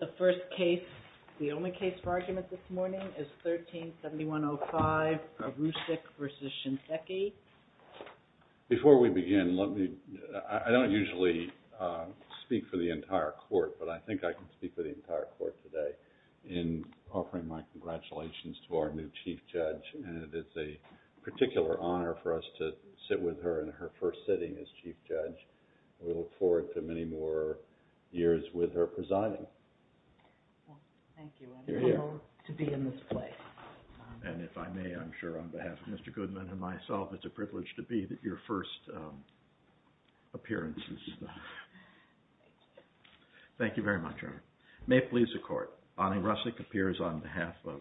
The first case, the only case for argument this morning is 13-7105 Arisick v. Shinseki. Before we begin, let me, I don't usually speak for the entire court, but I think I can speak for the entire court today in offering my congratulations to our new Chief Judge, and it's a particular honor for us to sit with her in her first sitting as Chief Judge. We look forward to many more years with her presiding. Thank you, it's an honor to be in this place. And if I may, I'm sure on behalf of Mr. Goodman and myself, it's a privilege to be at your first appearances. Thank you very much. May it please the Court, Bonnie Rusick appears on behalf of,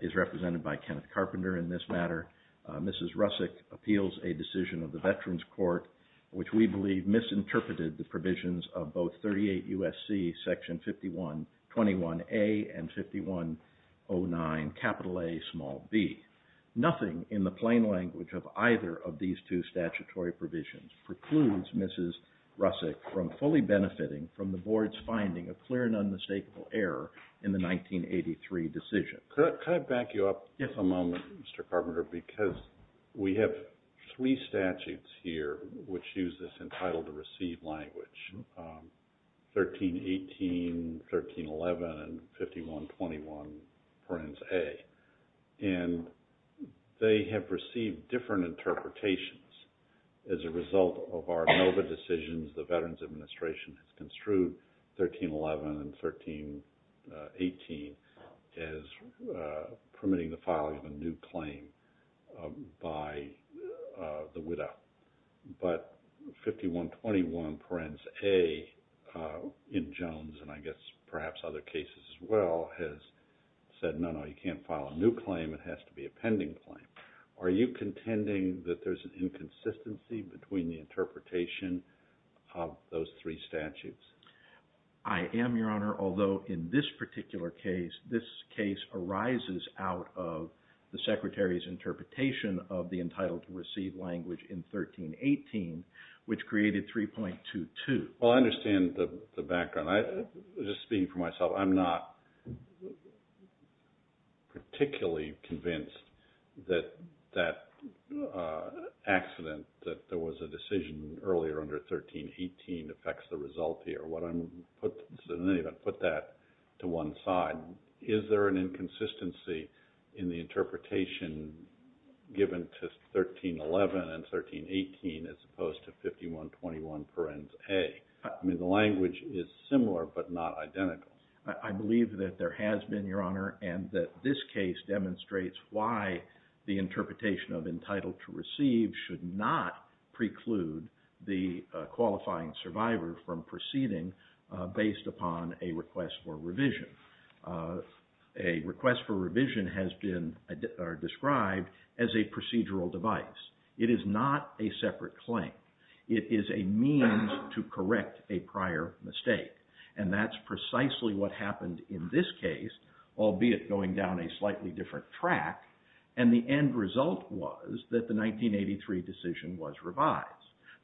is represented by Kenneth Carpenter in this matter. Mrs. Rusick appeals a decision of the Veterans Court which we believe misinterpreted the provisions of both 38 U.S.C. section 5121A and 5109 capital A small b. Nothing in the plain language of either of these two statutory provisions precludes Mrs. Rusick from fully benefiting from the Board's finding of clear and unmistakable error in the 1983 decision. Could I back you up for a moment, Mr. Carpenter, because we have three statutes here which use this entitled to receive language, 1318, 1311, and 5121 for instance A. And they have received different interpretations as a result of our NOVA decisions the Veterans 18 as permitting the filing of a new claim by the widow. But 5121 parens A in Jones and I guess perhaps other cases as well has said no, no, you can't file a new claim, it has to be a pending claim. Are you contending that there's an inconsistency between the interpretation of those three statutes? I am, Your Honor, although in this particular case, this case arises out of the Secretary's interpretation of the entitled to receive language in 1318 which created 3.22. Well, I understand the background. Just speaking for myself, I'm not particularly convinced that that accident, that there was a decision earlier under 1318 affects the result here. What I'm putting, I didn't even put that to one side. Is there an inconsistency in the interpretation given to 1311 and 1318 as opposed to 5121 parens A? I mean, the language is similar but not identical. I believe that there has been, Your Honor, and that this case demonstrates why the interpretation of entitled to receive should not preclude the qualifying survivor from proceeding based upon a request for revision. A request for revision has been described as a procedural device. It is not a separate claim. It is a means to correct a prior mistake and that's precisely what happened in this case, albeit going down a slightly different track. And the end result was that the 1983 decision was revised.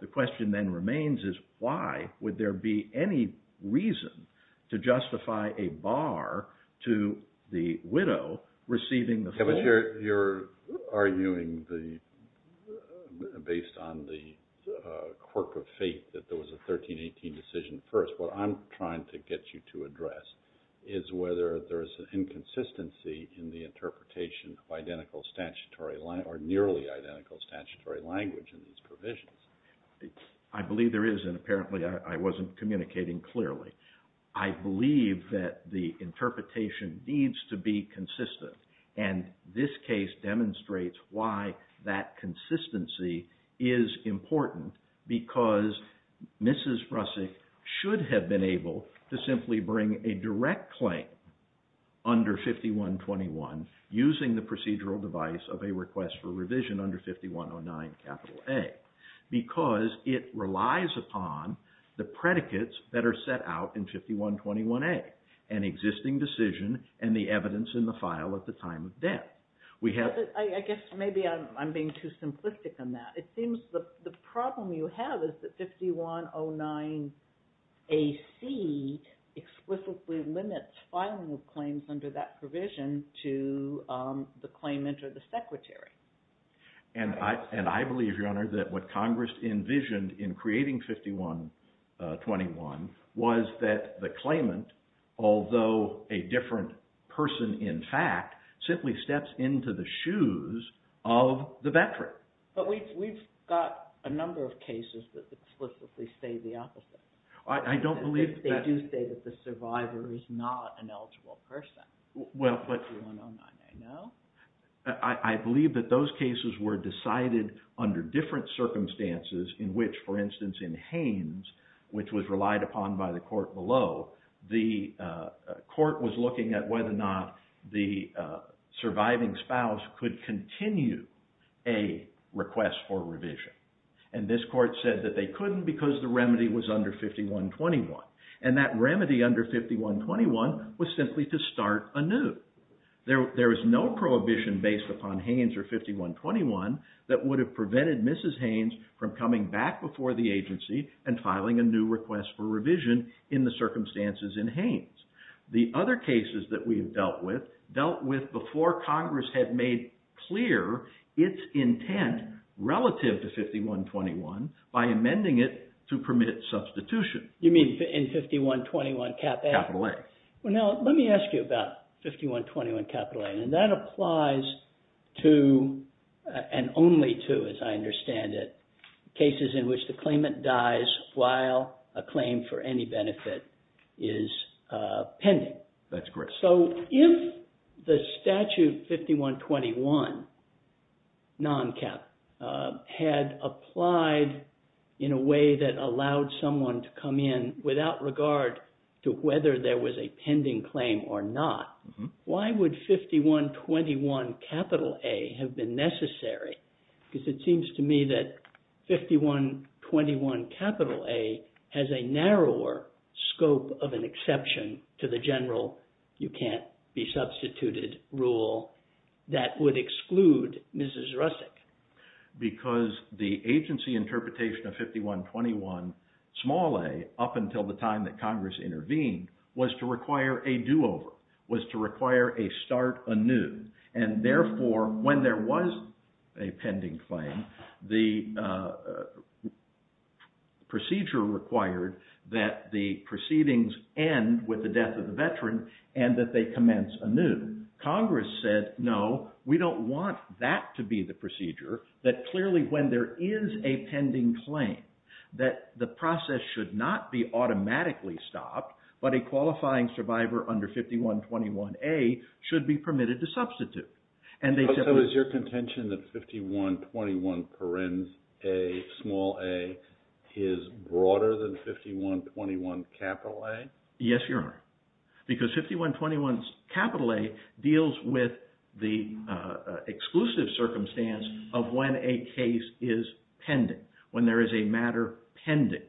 The question then remains is why would there be any reason to justify a bar to the widow receiving the full. Yeah, but you're arguing based on the quirk of fate that there was a 1318 decision first. What I'm trying to get you to address is whether there's an inconsistency in the interpretation of identical statutory or nearly identical statutory language in these provisions. I believe there is and apparently I wasn't communicating clearly. I believe that the interpretation needs to be consistent and this case demonstrates why that consistency is important because Mrs. Rusick should have been able to simply bring a direct claim under 5121 using the procedural device of a request for revision under 5109 capital A because it relies upon the predicates that are set out in 5121A, an existing decision and the evidence in the file at the time of death. I guess maybe I'm being too simplistic on that. It seems the problem you have is that 5109AC explicitly limits filing of claims under that provision to the claimant or the secretary. And I believe, Your Honor, that what Congress envisioned in creating 5121 was that the claimant, although a different person in fact, simply steps into the shoes of the veteran. But we've got a number of cases that explicitly say the opposite. I don't believe that... They do say that the survivor is not an eligible person. Well, but... 5109A, no? I believe that those cases were decided under different circumstances in which, for instance, in Haynes, which was relied upon by the court below, the court was looking at whether or not the surviving spouse could continue a request for revision. And this court said that they couldn't because the remedy was under 5121. And that remedy under 5121 was simply to start anew. There is no prohibition based upon Haynes or 5121 that would have prevented Mrs. Haynes from coming back before the agency and filing a new request for revision in the circumstances in Haynes. The other cases that we have dealt with dealt with before Congress had made clear its intent relative to 5121 by amending it to permit substitution. You mean in 5121A? Capital A. Well, now, let me ask you about 5121 Capital A. And that applies to, and only to, as I understand it, cases in which the claimant dies while a claim for any benefit is pending. That's correct. So if the statute 5121 had applied in a way that allowed someone to come in without regard to whether there was a pending claim or not, why would 5121 Capital A have been necessary? Because it seems to me that 5121 Capital A has a narrower scope of an exception to the general you can't be substituted rule that would exclude Mrs. Rusick. Because the agency interpretation of 5121 Small A up until the time that Congress intervened was to require a do-over, was to require a start anew. And therefore, when there was a pending claim, the procedure required that the proceedings end with the death of the veteran and that they commence anew. And Congress said, no, we don't want that to be the procedure. That clearly, when there is a pending claim, that the process should not be automatically stopped, but a qualifying survivor under 5121A should be permitted to substitute. So is your contention that 5121 Small A is broader than 5121 Capital A? Yes, you are. Because 5121 Capital A deals with the exclusive circumstance of when a case is pending, when there is a matter pending.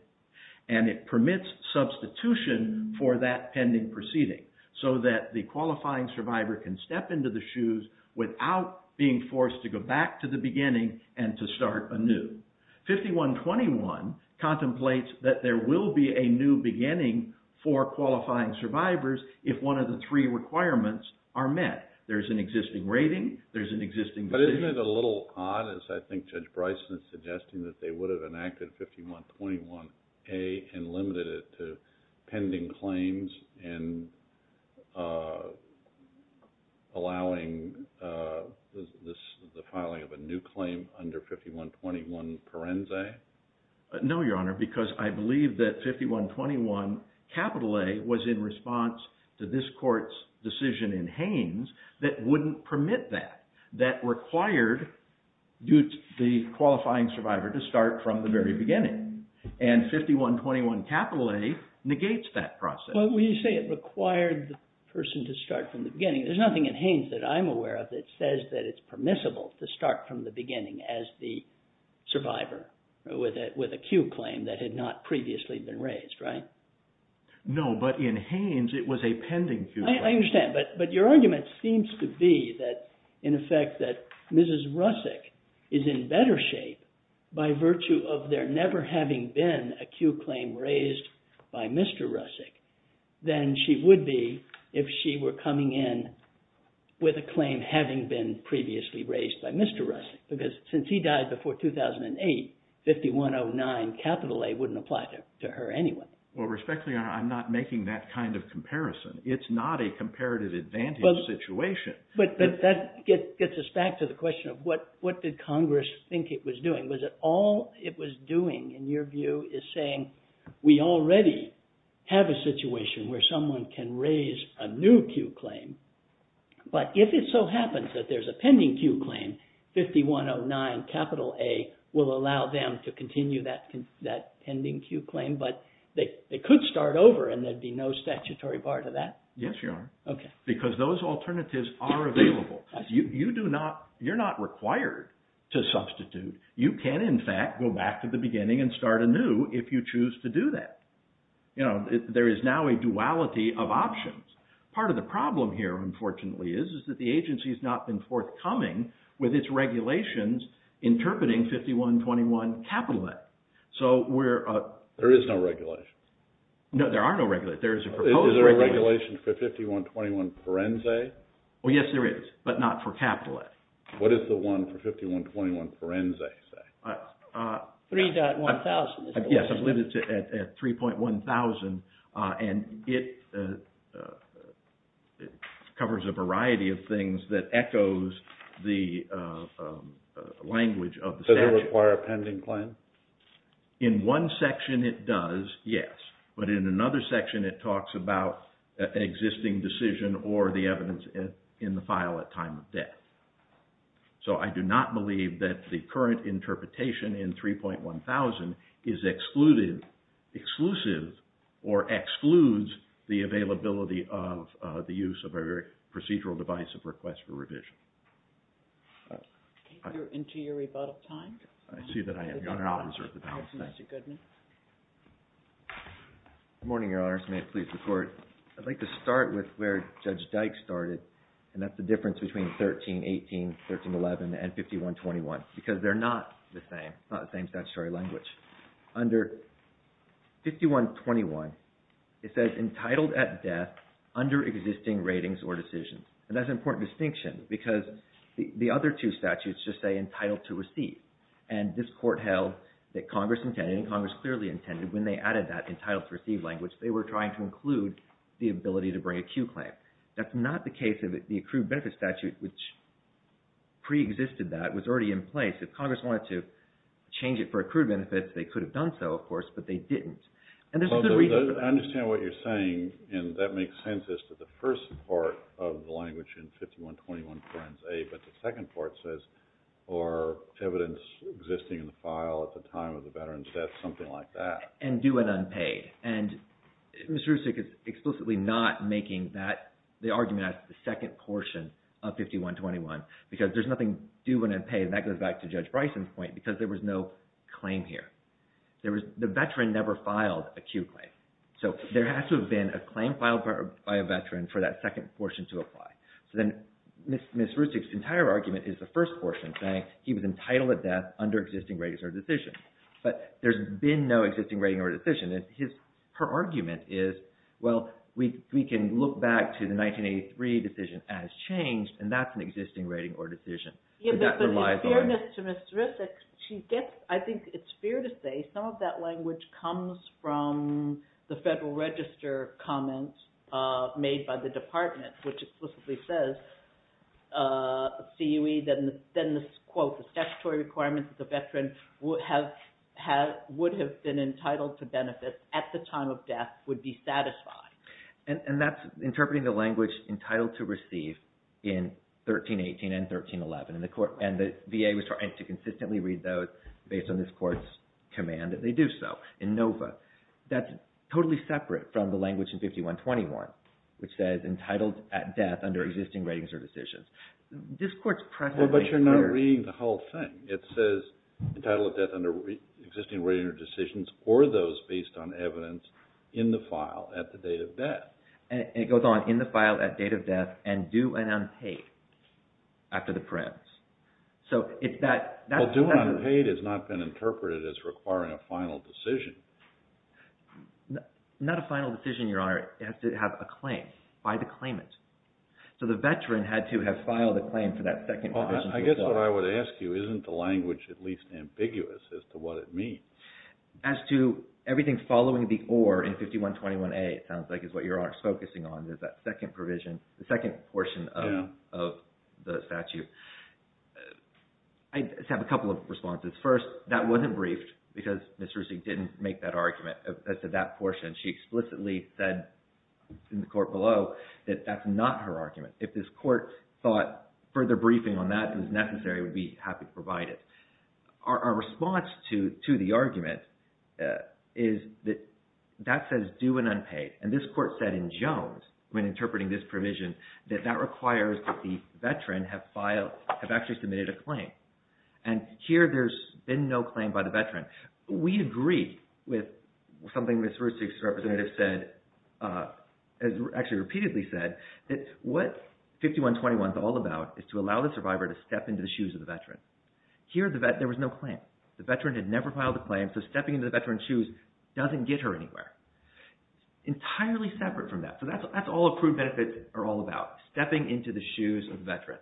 And it permits substitution for that pending proceeding so that the qualifying survivor can step into the shoes without being forced to go back to the beginning and to start anew. 5121 contemplates that there will be a new beginning for qualifying survivors if one of the three requirements are met. There's an existing rating. There's an existing procedure. Isn't it a little odd, as I think Judge Bryson is suggesting, that they would have enacted 5121A and limited it to pending claims and allowing the filing of a new claim under 5121 Parense? No, Your Honor, because I believe that 5121 Capital A was in response to this court's decision in Haines that wouldn't permit that, that required the qualifying survivor to start from the very beginning. And 5121 Capital A negates that process. But when you say it required the person to start from the beginning, there's nothing in Haines that I'm aware of that says that it's permissible to start from the beginning as the survivor with a Q claim that had not previously been raised, right? No, but in Haines it was a pending Q claim. Well, respectfully, Your Honor, I'm not making that kind of comparison. It's not a comparative advantage situation. But that gets us back to the question of what did Congress think it was doing. Was it all it was doing, in your view, is saying we already have a situation where someone can raise a new Q claim, but if it so happens that there's a pending Q claim, 5109 Capital A will allow them to continue that pending Q claim, but they could start over and there'd be no statutory bar to that? Yes, Your Honor. Okay. You're not required to substitute. You can, in fact, go back to the beginning and start anew if you choose to do that. You know, there is now a duality of options. Part of the problem here, unfortunately, is that the agency has not been forthcoming with its regulations interpreting 5121 Capital A. There is no regulation. No, there are no regulations. Is there a regulation for 5121 Forenzay? Well, yes, there is, but not for Capital A. What does the one for 5121 Forenzay say? 3.1000. Yes, I believe it's at 3.1000, and it covers a variety of things that echoes the language of the statute. Does it require a pending claim? In one section it does, yes, but in another section it talks about an existing decision or the evidence in the file at time of death. So I do not believe that the current interpretation in 3.1000 is exclusive or excludes the availability of the use of a procedural device of request for revision. Into your rebuttal time? I see that I am. Your Honor, I'll reserve the balance. Thank you. Mr. Goodman. Good morning, Your Honor. May it please the Court. I'd like to start with where Judge Dyke started, and that's the difference between 1318, 1311, and 5121, because they're not the same, not the same statutory language. Under 5121, it says entitled at death under existing ratings or decisions. And that's an important distinction, because the other two statutes just say entitled to receive. And this Court held that Congress intended, and Congress clearly intended, when they added that entitled to receive language, they were trying to include the ability to bring a cue claim. That's not the case of the accrued benefits statute, which preexisted that, was already in place. If Congress wanted to change it for accrued benefits, they could have done so, of course, but they didn't. I understand what you're saying, and that makes sense as to the first part of the language in 5121, but the second part says, or evidence existing in the file at the time of the veteran's death, something like that. And due and unpaid. And Ms. Rusick is explicitly not making that, the argument as to the second portion of 5121, because there's nothing due and unpaid, and that goes back to Judge Bryson's point, because there was no claim here. The veteran never filed a cue claim. So there has to have been a claim filed by a veteran for that second portion to apply. So then Ms. Rusick's entire argument is the first portion, saying he was entitled to death under existing ratings or decisions. But there's been no existing rating or decision, and her argument is, well, we can look back to the 1983 decision as changed, and that's an existing rating or decision. But the fairness to Ms. Rusick, I think it's fair to say some of that language comes from the Federal Register comments made by the Department, which explicitly says, CUE, then this quote, the statutory requirements of the veteran would have been entitled to benefits at the time of death would be satisfied. And that's interpreting the language entitled to receive in 1318 and 1311, and the VA was trying to consistently read those based on this court's command, and they do so in NOVA. That's totally separate from the language in 5121, which says entitled at death under existing ratings or decisions. But you're not reading the whole thing. It says entitled at death under existing ratings or decisions or those based on evidence in the file at the date of death. And it goes on, in the file at date of death, and due and unpaid after the press. Well, due and unpaid has not been interpreted as requiring a final decision. Not a final decision, Your Honor. It has to have a claim by the claimant. So the veteran had to have filed a claim for that second provision. Well, I guess what I would ask you, isn't the language at least ambiguous as to what it means? As to everything following the OR in 5121A, it sounds like, is what Your Honor is focusing on. There's that second provision, the second portion of the statute. I just have a couple of responses. First, that wasn't briefed because Ms. Rusick didn't make that argument as to that portion. She explicitly said in the court below that that's not her argument. If this court thought further briefing on that is necessary, we'd be happy to provide it. Our response to the argument is that that says due and unpaid. And this court said in Jones, when interpreting this provision, that that requires that the veteran have actually submitted a claim. And here, there's been no claim by the veteran. We agree with something Ms. Rusick's representative said, actually repeatedly said, that what 5121 is all about is to allow the survivor to step into the shoes of the veteran. Here, there was no claim. The veteran had never filed a claim, so stepping into the veteran's shoes doesn't get her anywhere. Entirely separate from that. So that's all approved benefits are all about, stepping into the shoes of the veteran.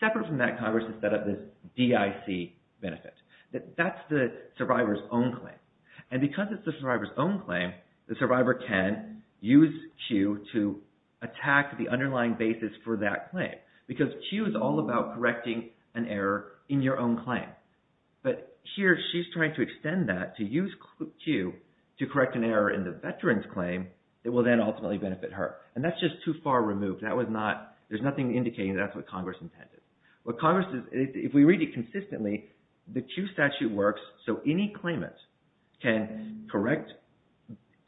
Separate from that, Congress has set up this DIC benefit. That's the survivor's own claim. And because it's the survivor's own claim, the survivor can use Q to attack the underlying basis for that claim. Because Q is all about correcting an error in your own claim. But here, she's trying to extend that to use Q to correct an error in the veteran's claim that will then ultimately benefit her. And that's just too far removed. That was not – there's nothing indicating that's what Congress intended. What Congress – if we read it consistently, the Q statute works so any claimant can correct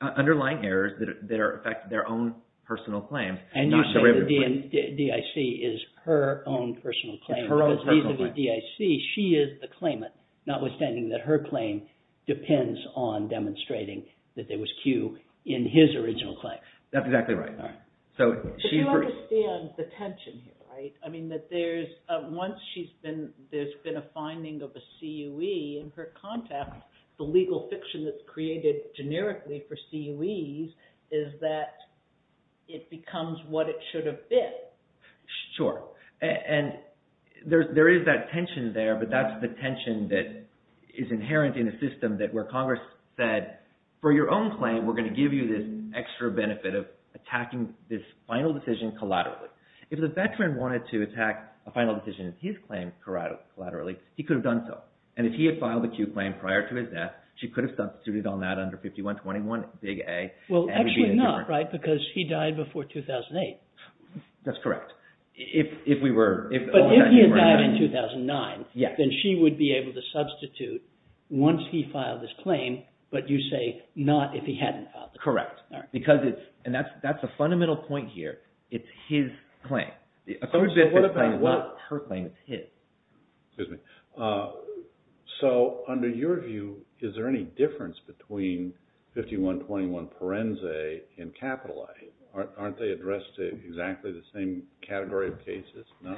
underlying errors that affect their own personal claim. And you said the DIC is her own personal claim. Because these are the DIC, she is the claimant, notwithstanding that her claim depends on demonstrating that there was Q in his original claim. That's exactly right. But you understand the tension here, right? I mean that there's – once she's been – there's been a finding of a CUE in her context, the legal fiction that's created generically for CUEs is that it becomes what it should have been. Sure. And there is that tension there, but that's the tension that is inherent in a system that where Congress said, for your own claim, we're going to give you this extra benefit of attacking this final decision collaterally. If the veteran wanted to attack a final decision in his claim collaterally, he could have done so. And if he had filed a CUE claim prior to his death, she could have substituted on that under 5121, big A. Well, actually not, right? Because he died before 2008. That's correct. If we were – But if he died in 2009, then she would be able to substitute once he filed his claim, but you say not if he hadn't filed it. Correct. Because it's – and that's a fundamental point here. It's his claim. So what about what – Her claim is his. Excuse me. So under your view, is there any difference between 5121 Parense and capital A? Aren't they addressed to exactly the same category of cases? No.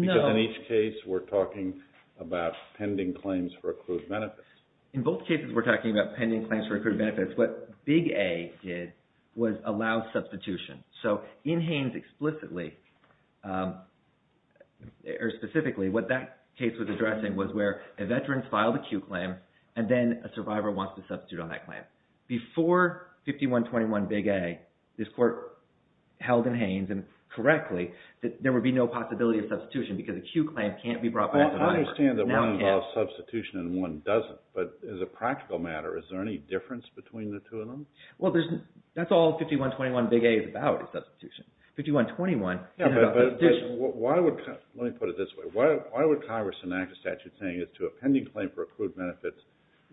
Because in each case, we're talking about pending claims for accrued benefits. In both cases, we're talking about pending claims for accrued benefits. What big A did was allow substitution. So in Haines explicitly or specifically, what that case was addressing was where a veteran filed a CUE claim and then a survivor wants to substitute on that claim. Before 5121 big A, this court held in Haines and correctly that there would be no possibility of substitution because a CUE claim can't be brought by a survivor. I understand that one involves substitution and one doesn't, but as a practical matter, is there any difference between the two of them? Well, that's all 5121 big A is about is substitution. 5121 – Yeah, but why would – let me put it this way. Why would Congress enact a statute saying as to a pending claim for accrued benefits,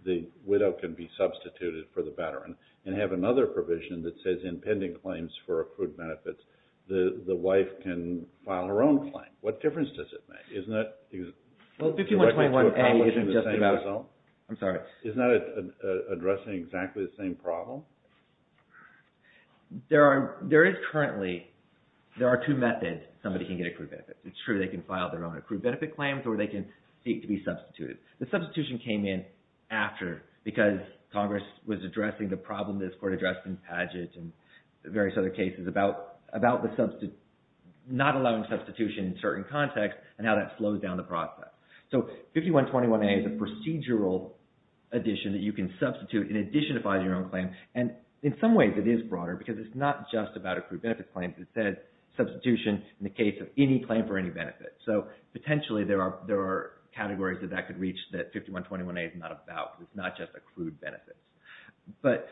the widow can be substituted for the veteran and have another provision that says in pending claims for accrued benefits, the wife can file her own claim? What difference does it make? Well, 5121 A isn't just about – I'm sorry. Isn't that addressing exactly the same problem? There is currently – there are two methods somebody can get accrued benefits. It's true they can file their own accrued benefit claims or they can seek to be substituted. The substitution came in after because Congress was addressing the problem this court addressed in Padgett and various other cases about the – not allowing substitution in certain contexts and how that slows down the process. So 5121 A is a procedural addition that you can substitute in addition to filing your own claim. And in some ways, it is broader because it's not just about accrued benefit claims. It says substitution in the case of any claim for any benefit. So potentially, there are categories that that could reach that 5121 A is not about. It's not just accrued benefits. But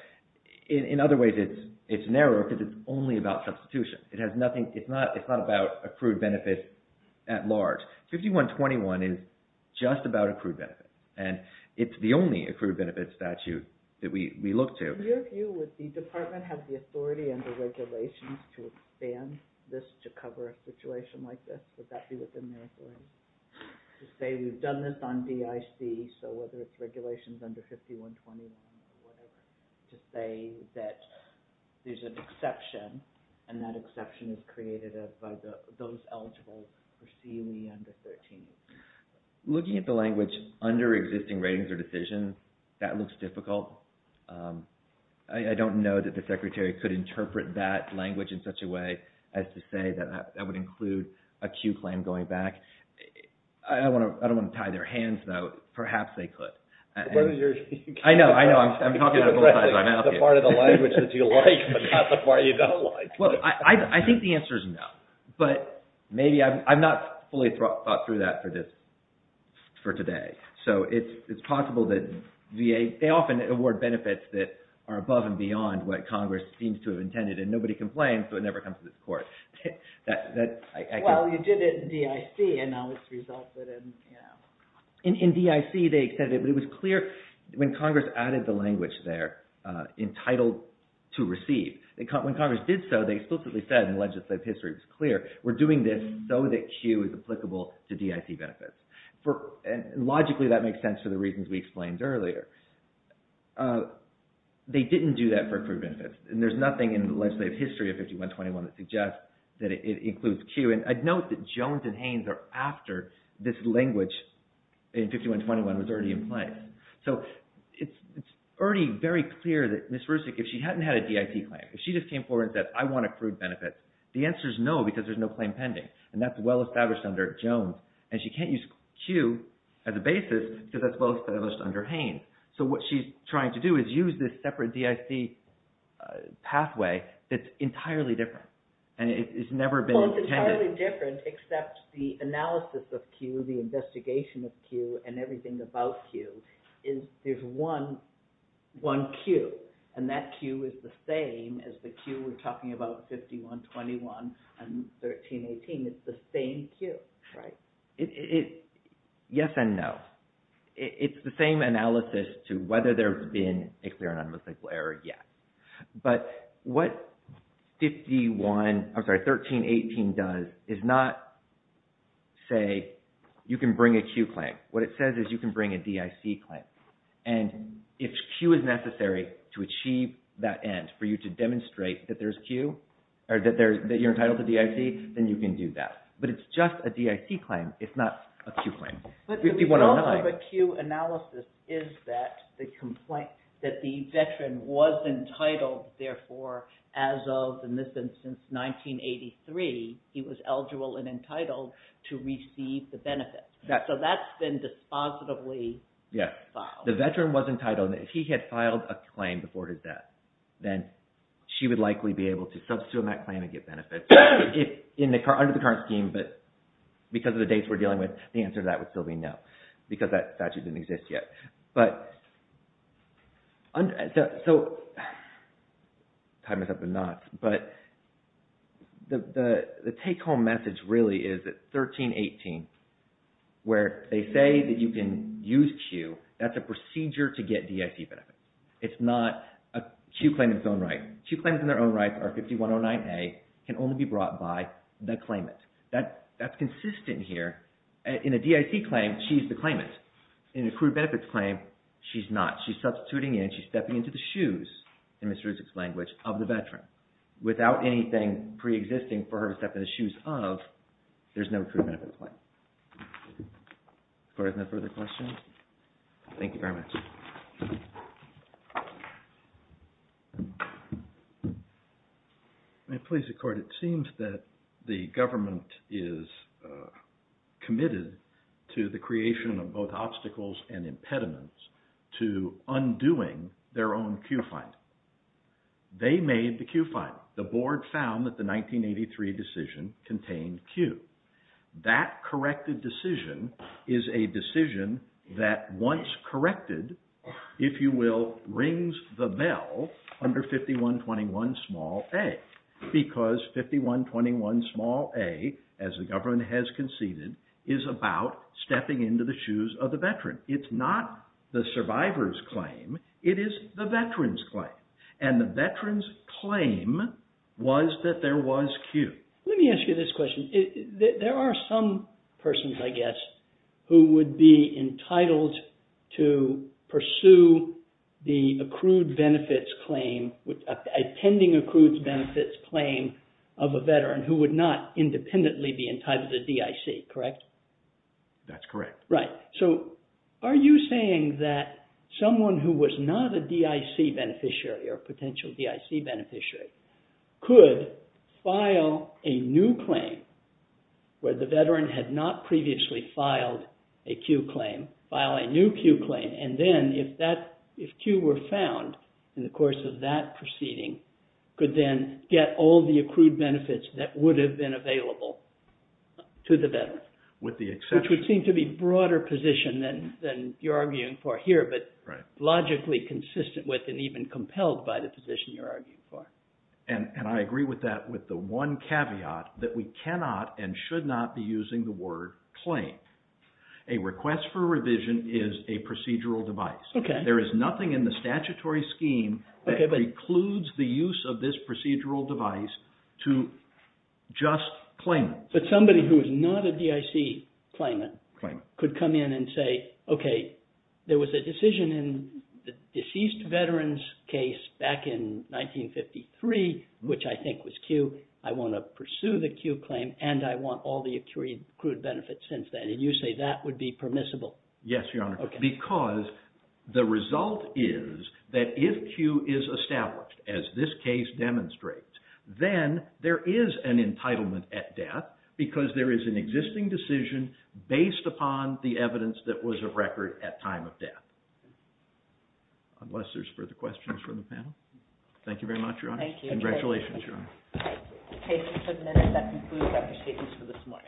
in other ways, it's narrow because it's only about substitution. It has nothing – it's not about accrued benefits at large. 5121 is just about accrued benefits, and it's the only accrued benefits statute that we look to. From your view, would the department have the authority and the regulations to expand this to cover a situation like this? Would that be within their authority? To say we've done this on DIC, so whether it's regulations under 5121 or whatever, to say that there's an exception and that exception is created by those eligible for CUE under 13. Looking at the language under existing ratings or decisions, that looks difficult. I don't know that the secretary could interpret that language in such a way as to say that that would include a CUE claim going back. I don't want to tie their hands, though. Perhaps they could. I know. I know. I'm talking about it both sides of my mouth here. The part of the language that you like, but not the part you don't like. Well, I think the answer is no. But maybe – I've not fully thought through that for today. So it's possible that VA – they often award benefits that are above and beyond what Congress seems to have intended, and nobody complains, so it never comes to this court. Well, you did it in DIC, and now it's resulted in – In DIC, they extended it, but it was clear when Congress added the language there, entitled to receive. When Congress did so, they explicitly said in legislative history, it was clear, we're doing this so that CUE is applicable to DIC benefits. Logically, that makes sense for the reasons we explained earlier. They didn't do that for accrued benefits, and there's nothing in legislative history of 5121 that suggests that it includes CUE. And I'd note that Jones and Haynes are after this language in 5121 was already in place. So it's already very clear that Ms. Rusick, if she hadn't had a DIC claim, if she just came forward and said, I want accrued benefits, the answer is no because there's no claim pending. And that's well-established under Jones, and she can't use CUE as a basis because that's well-established under Haynes. So what she's trying to do is use this separate DIC pathway that's entirely different, and it's never been intended. It's entirely different except the analysis of CUE, the investigation of CUE, and everything about CUE is there's one CUE, and that CUE is the same as the CUE we're talking about 5121 and 1318. It's the same CUE. Right. Yes and no. It's the same analysis to whether there's been a clear and unmistakable error, yes. But what 5121, I'm sorry, 1318 does is not say you can bring a CUE claim. What it says is you can bring a DIC claim, and if CUE is necessary to achieve that end for you to demonstrate that there's CUE or that you're entitled to DIC, then you can do that. But it's just a DIC claim. It's not a CUE claim. But the problem of a CUE analysis is that the veteran was entitled, therefore, as of, in this instance, 1983, he was eligible and entitled to receive the benefits. So that's been dispositively filed. The veteran was entitled. If he had filed a claim before his death, then she would likely be able to substitute that claim and get benefits under the current scheme. But because of the dates we're dealing with, the answer to that would still be no because that statute didn't exist yet. But – so I'm tying this up in knots, but the take-home message really is that 1318, where they say that you can use CUE, that's a procedure to get DIC benefits. It's not a CUE claim in its own right. CUE claims in their own rights are 5109A, can only be brought by the claimant. That's consistent here. In a DIC claim, she's the claimant. In a accrued benefits claim, she's not. She's substituting in. She's stepping into the shoes, in Ms. Ruzick's language, of the veteran. Without anything preexisting for her to step in the shoes of, there's no accrued benefits claim. If there are no further questions, thank you very much. May I please, Your Court? It seems that the government is committed to the creation of both obstacles and impediments to undoing their own CUE fine. They made the CUE fine. The board found that the 1983 decision contained CUE. That corrected decision is a decision that once corrected, if you will, rings the bell under 5121a. Because 5121a, as the government has conceded, is about stepping into the shoes of the veteran. It's not the survivor's claim. It is the veteran's claim. And the veteran's claim was that there was CUE. Let me ask you this question. There are some persons, I guess, who would be entitled to pursue the accrued benefits claim, a pending accrued benefits claim of a veteran who would not independently be entitled to DIC, correct? That's correct. Right. So are you saying that someone who was not a DIC beneficiary or potential DIC beneficiary could file a new claim where the veteran had not previously filed a CUE claim, file a new CUE claim, and then if CUE were found in the course of that proceeding, could then get all the accrued benefits that would have been available to the veteran? With the exception. Which would seem to be a broader position than you're arguing for here, but logically consistent with and even compelled by the position you're arguing for. And I agree with that with the one caveat that we cannot and should not be using the word claim. A request for revision is a procedural device. There is nothing in the statutory scheme that precludes the use of this procedural device to just claim it. But somebody who is not a DIC claimant could come in and say, okay, there was a decision in the deceased veteran's case back in 1953, which I think was CUE. I want to pursue the CUE claim and I want all the accrued benefits since then. And you say that would be permissible. Yes, Your Honor, because the result is that if CUE is established, as this case demonstrates, then there is an entitlement at death because there is an existing decision based upon the evidence that was of record at time of death. Unless there's further questions from the panel. Thank you very much, Your Honor. Thank you. Congratulations, Your Honor. Thank you. That concludes our statements for this morning.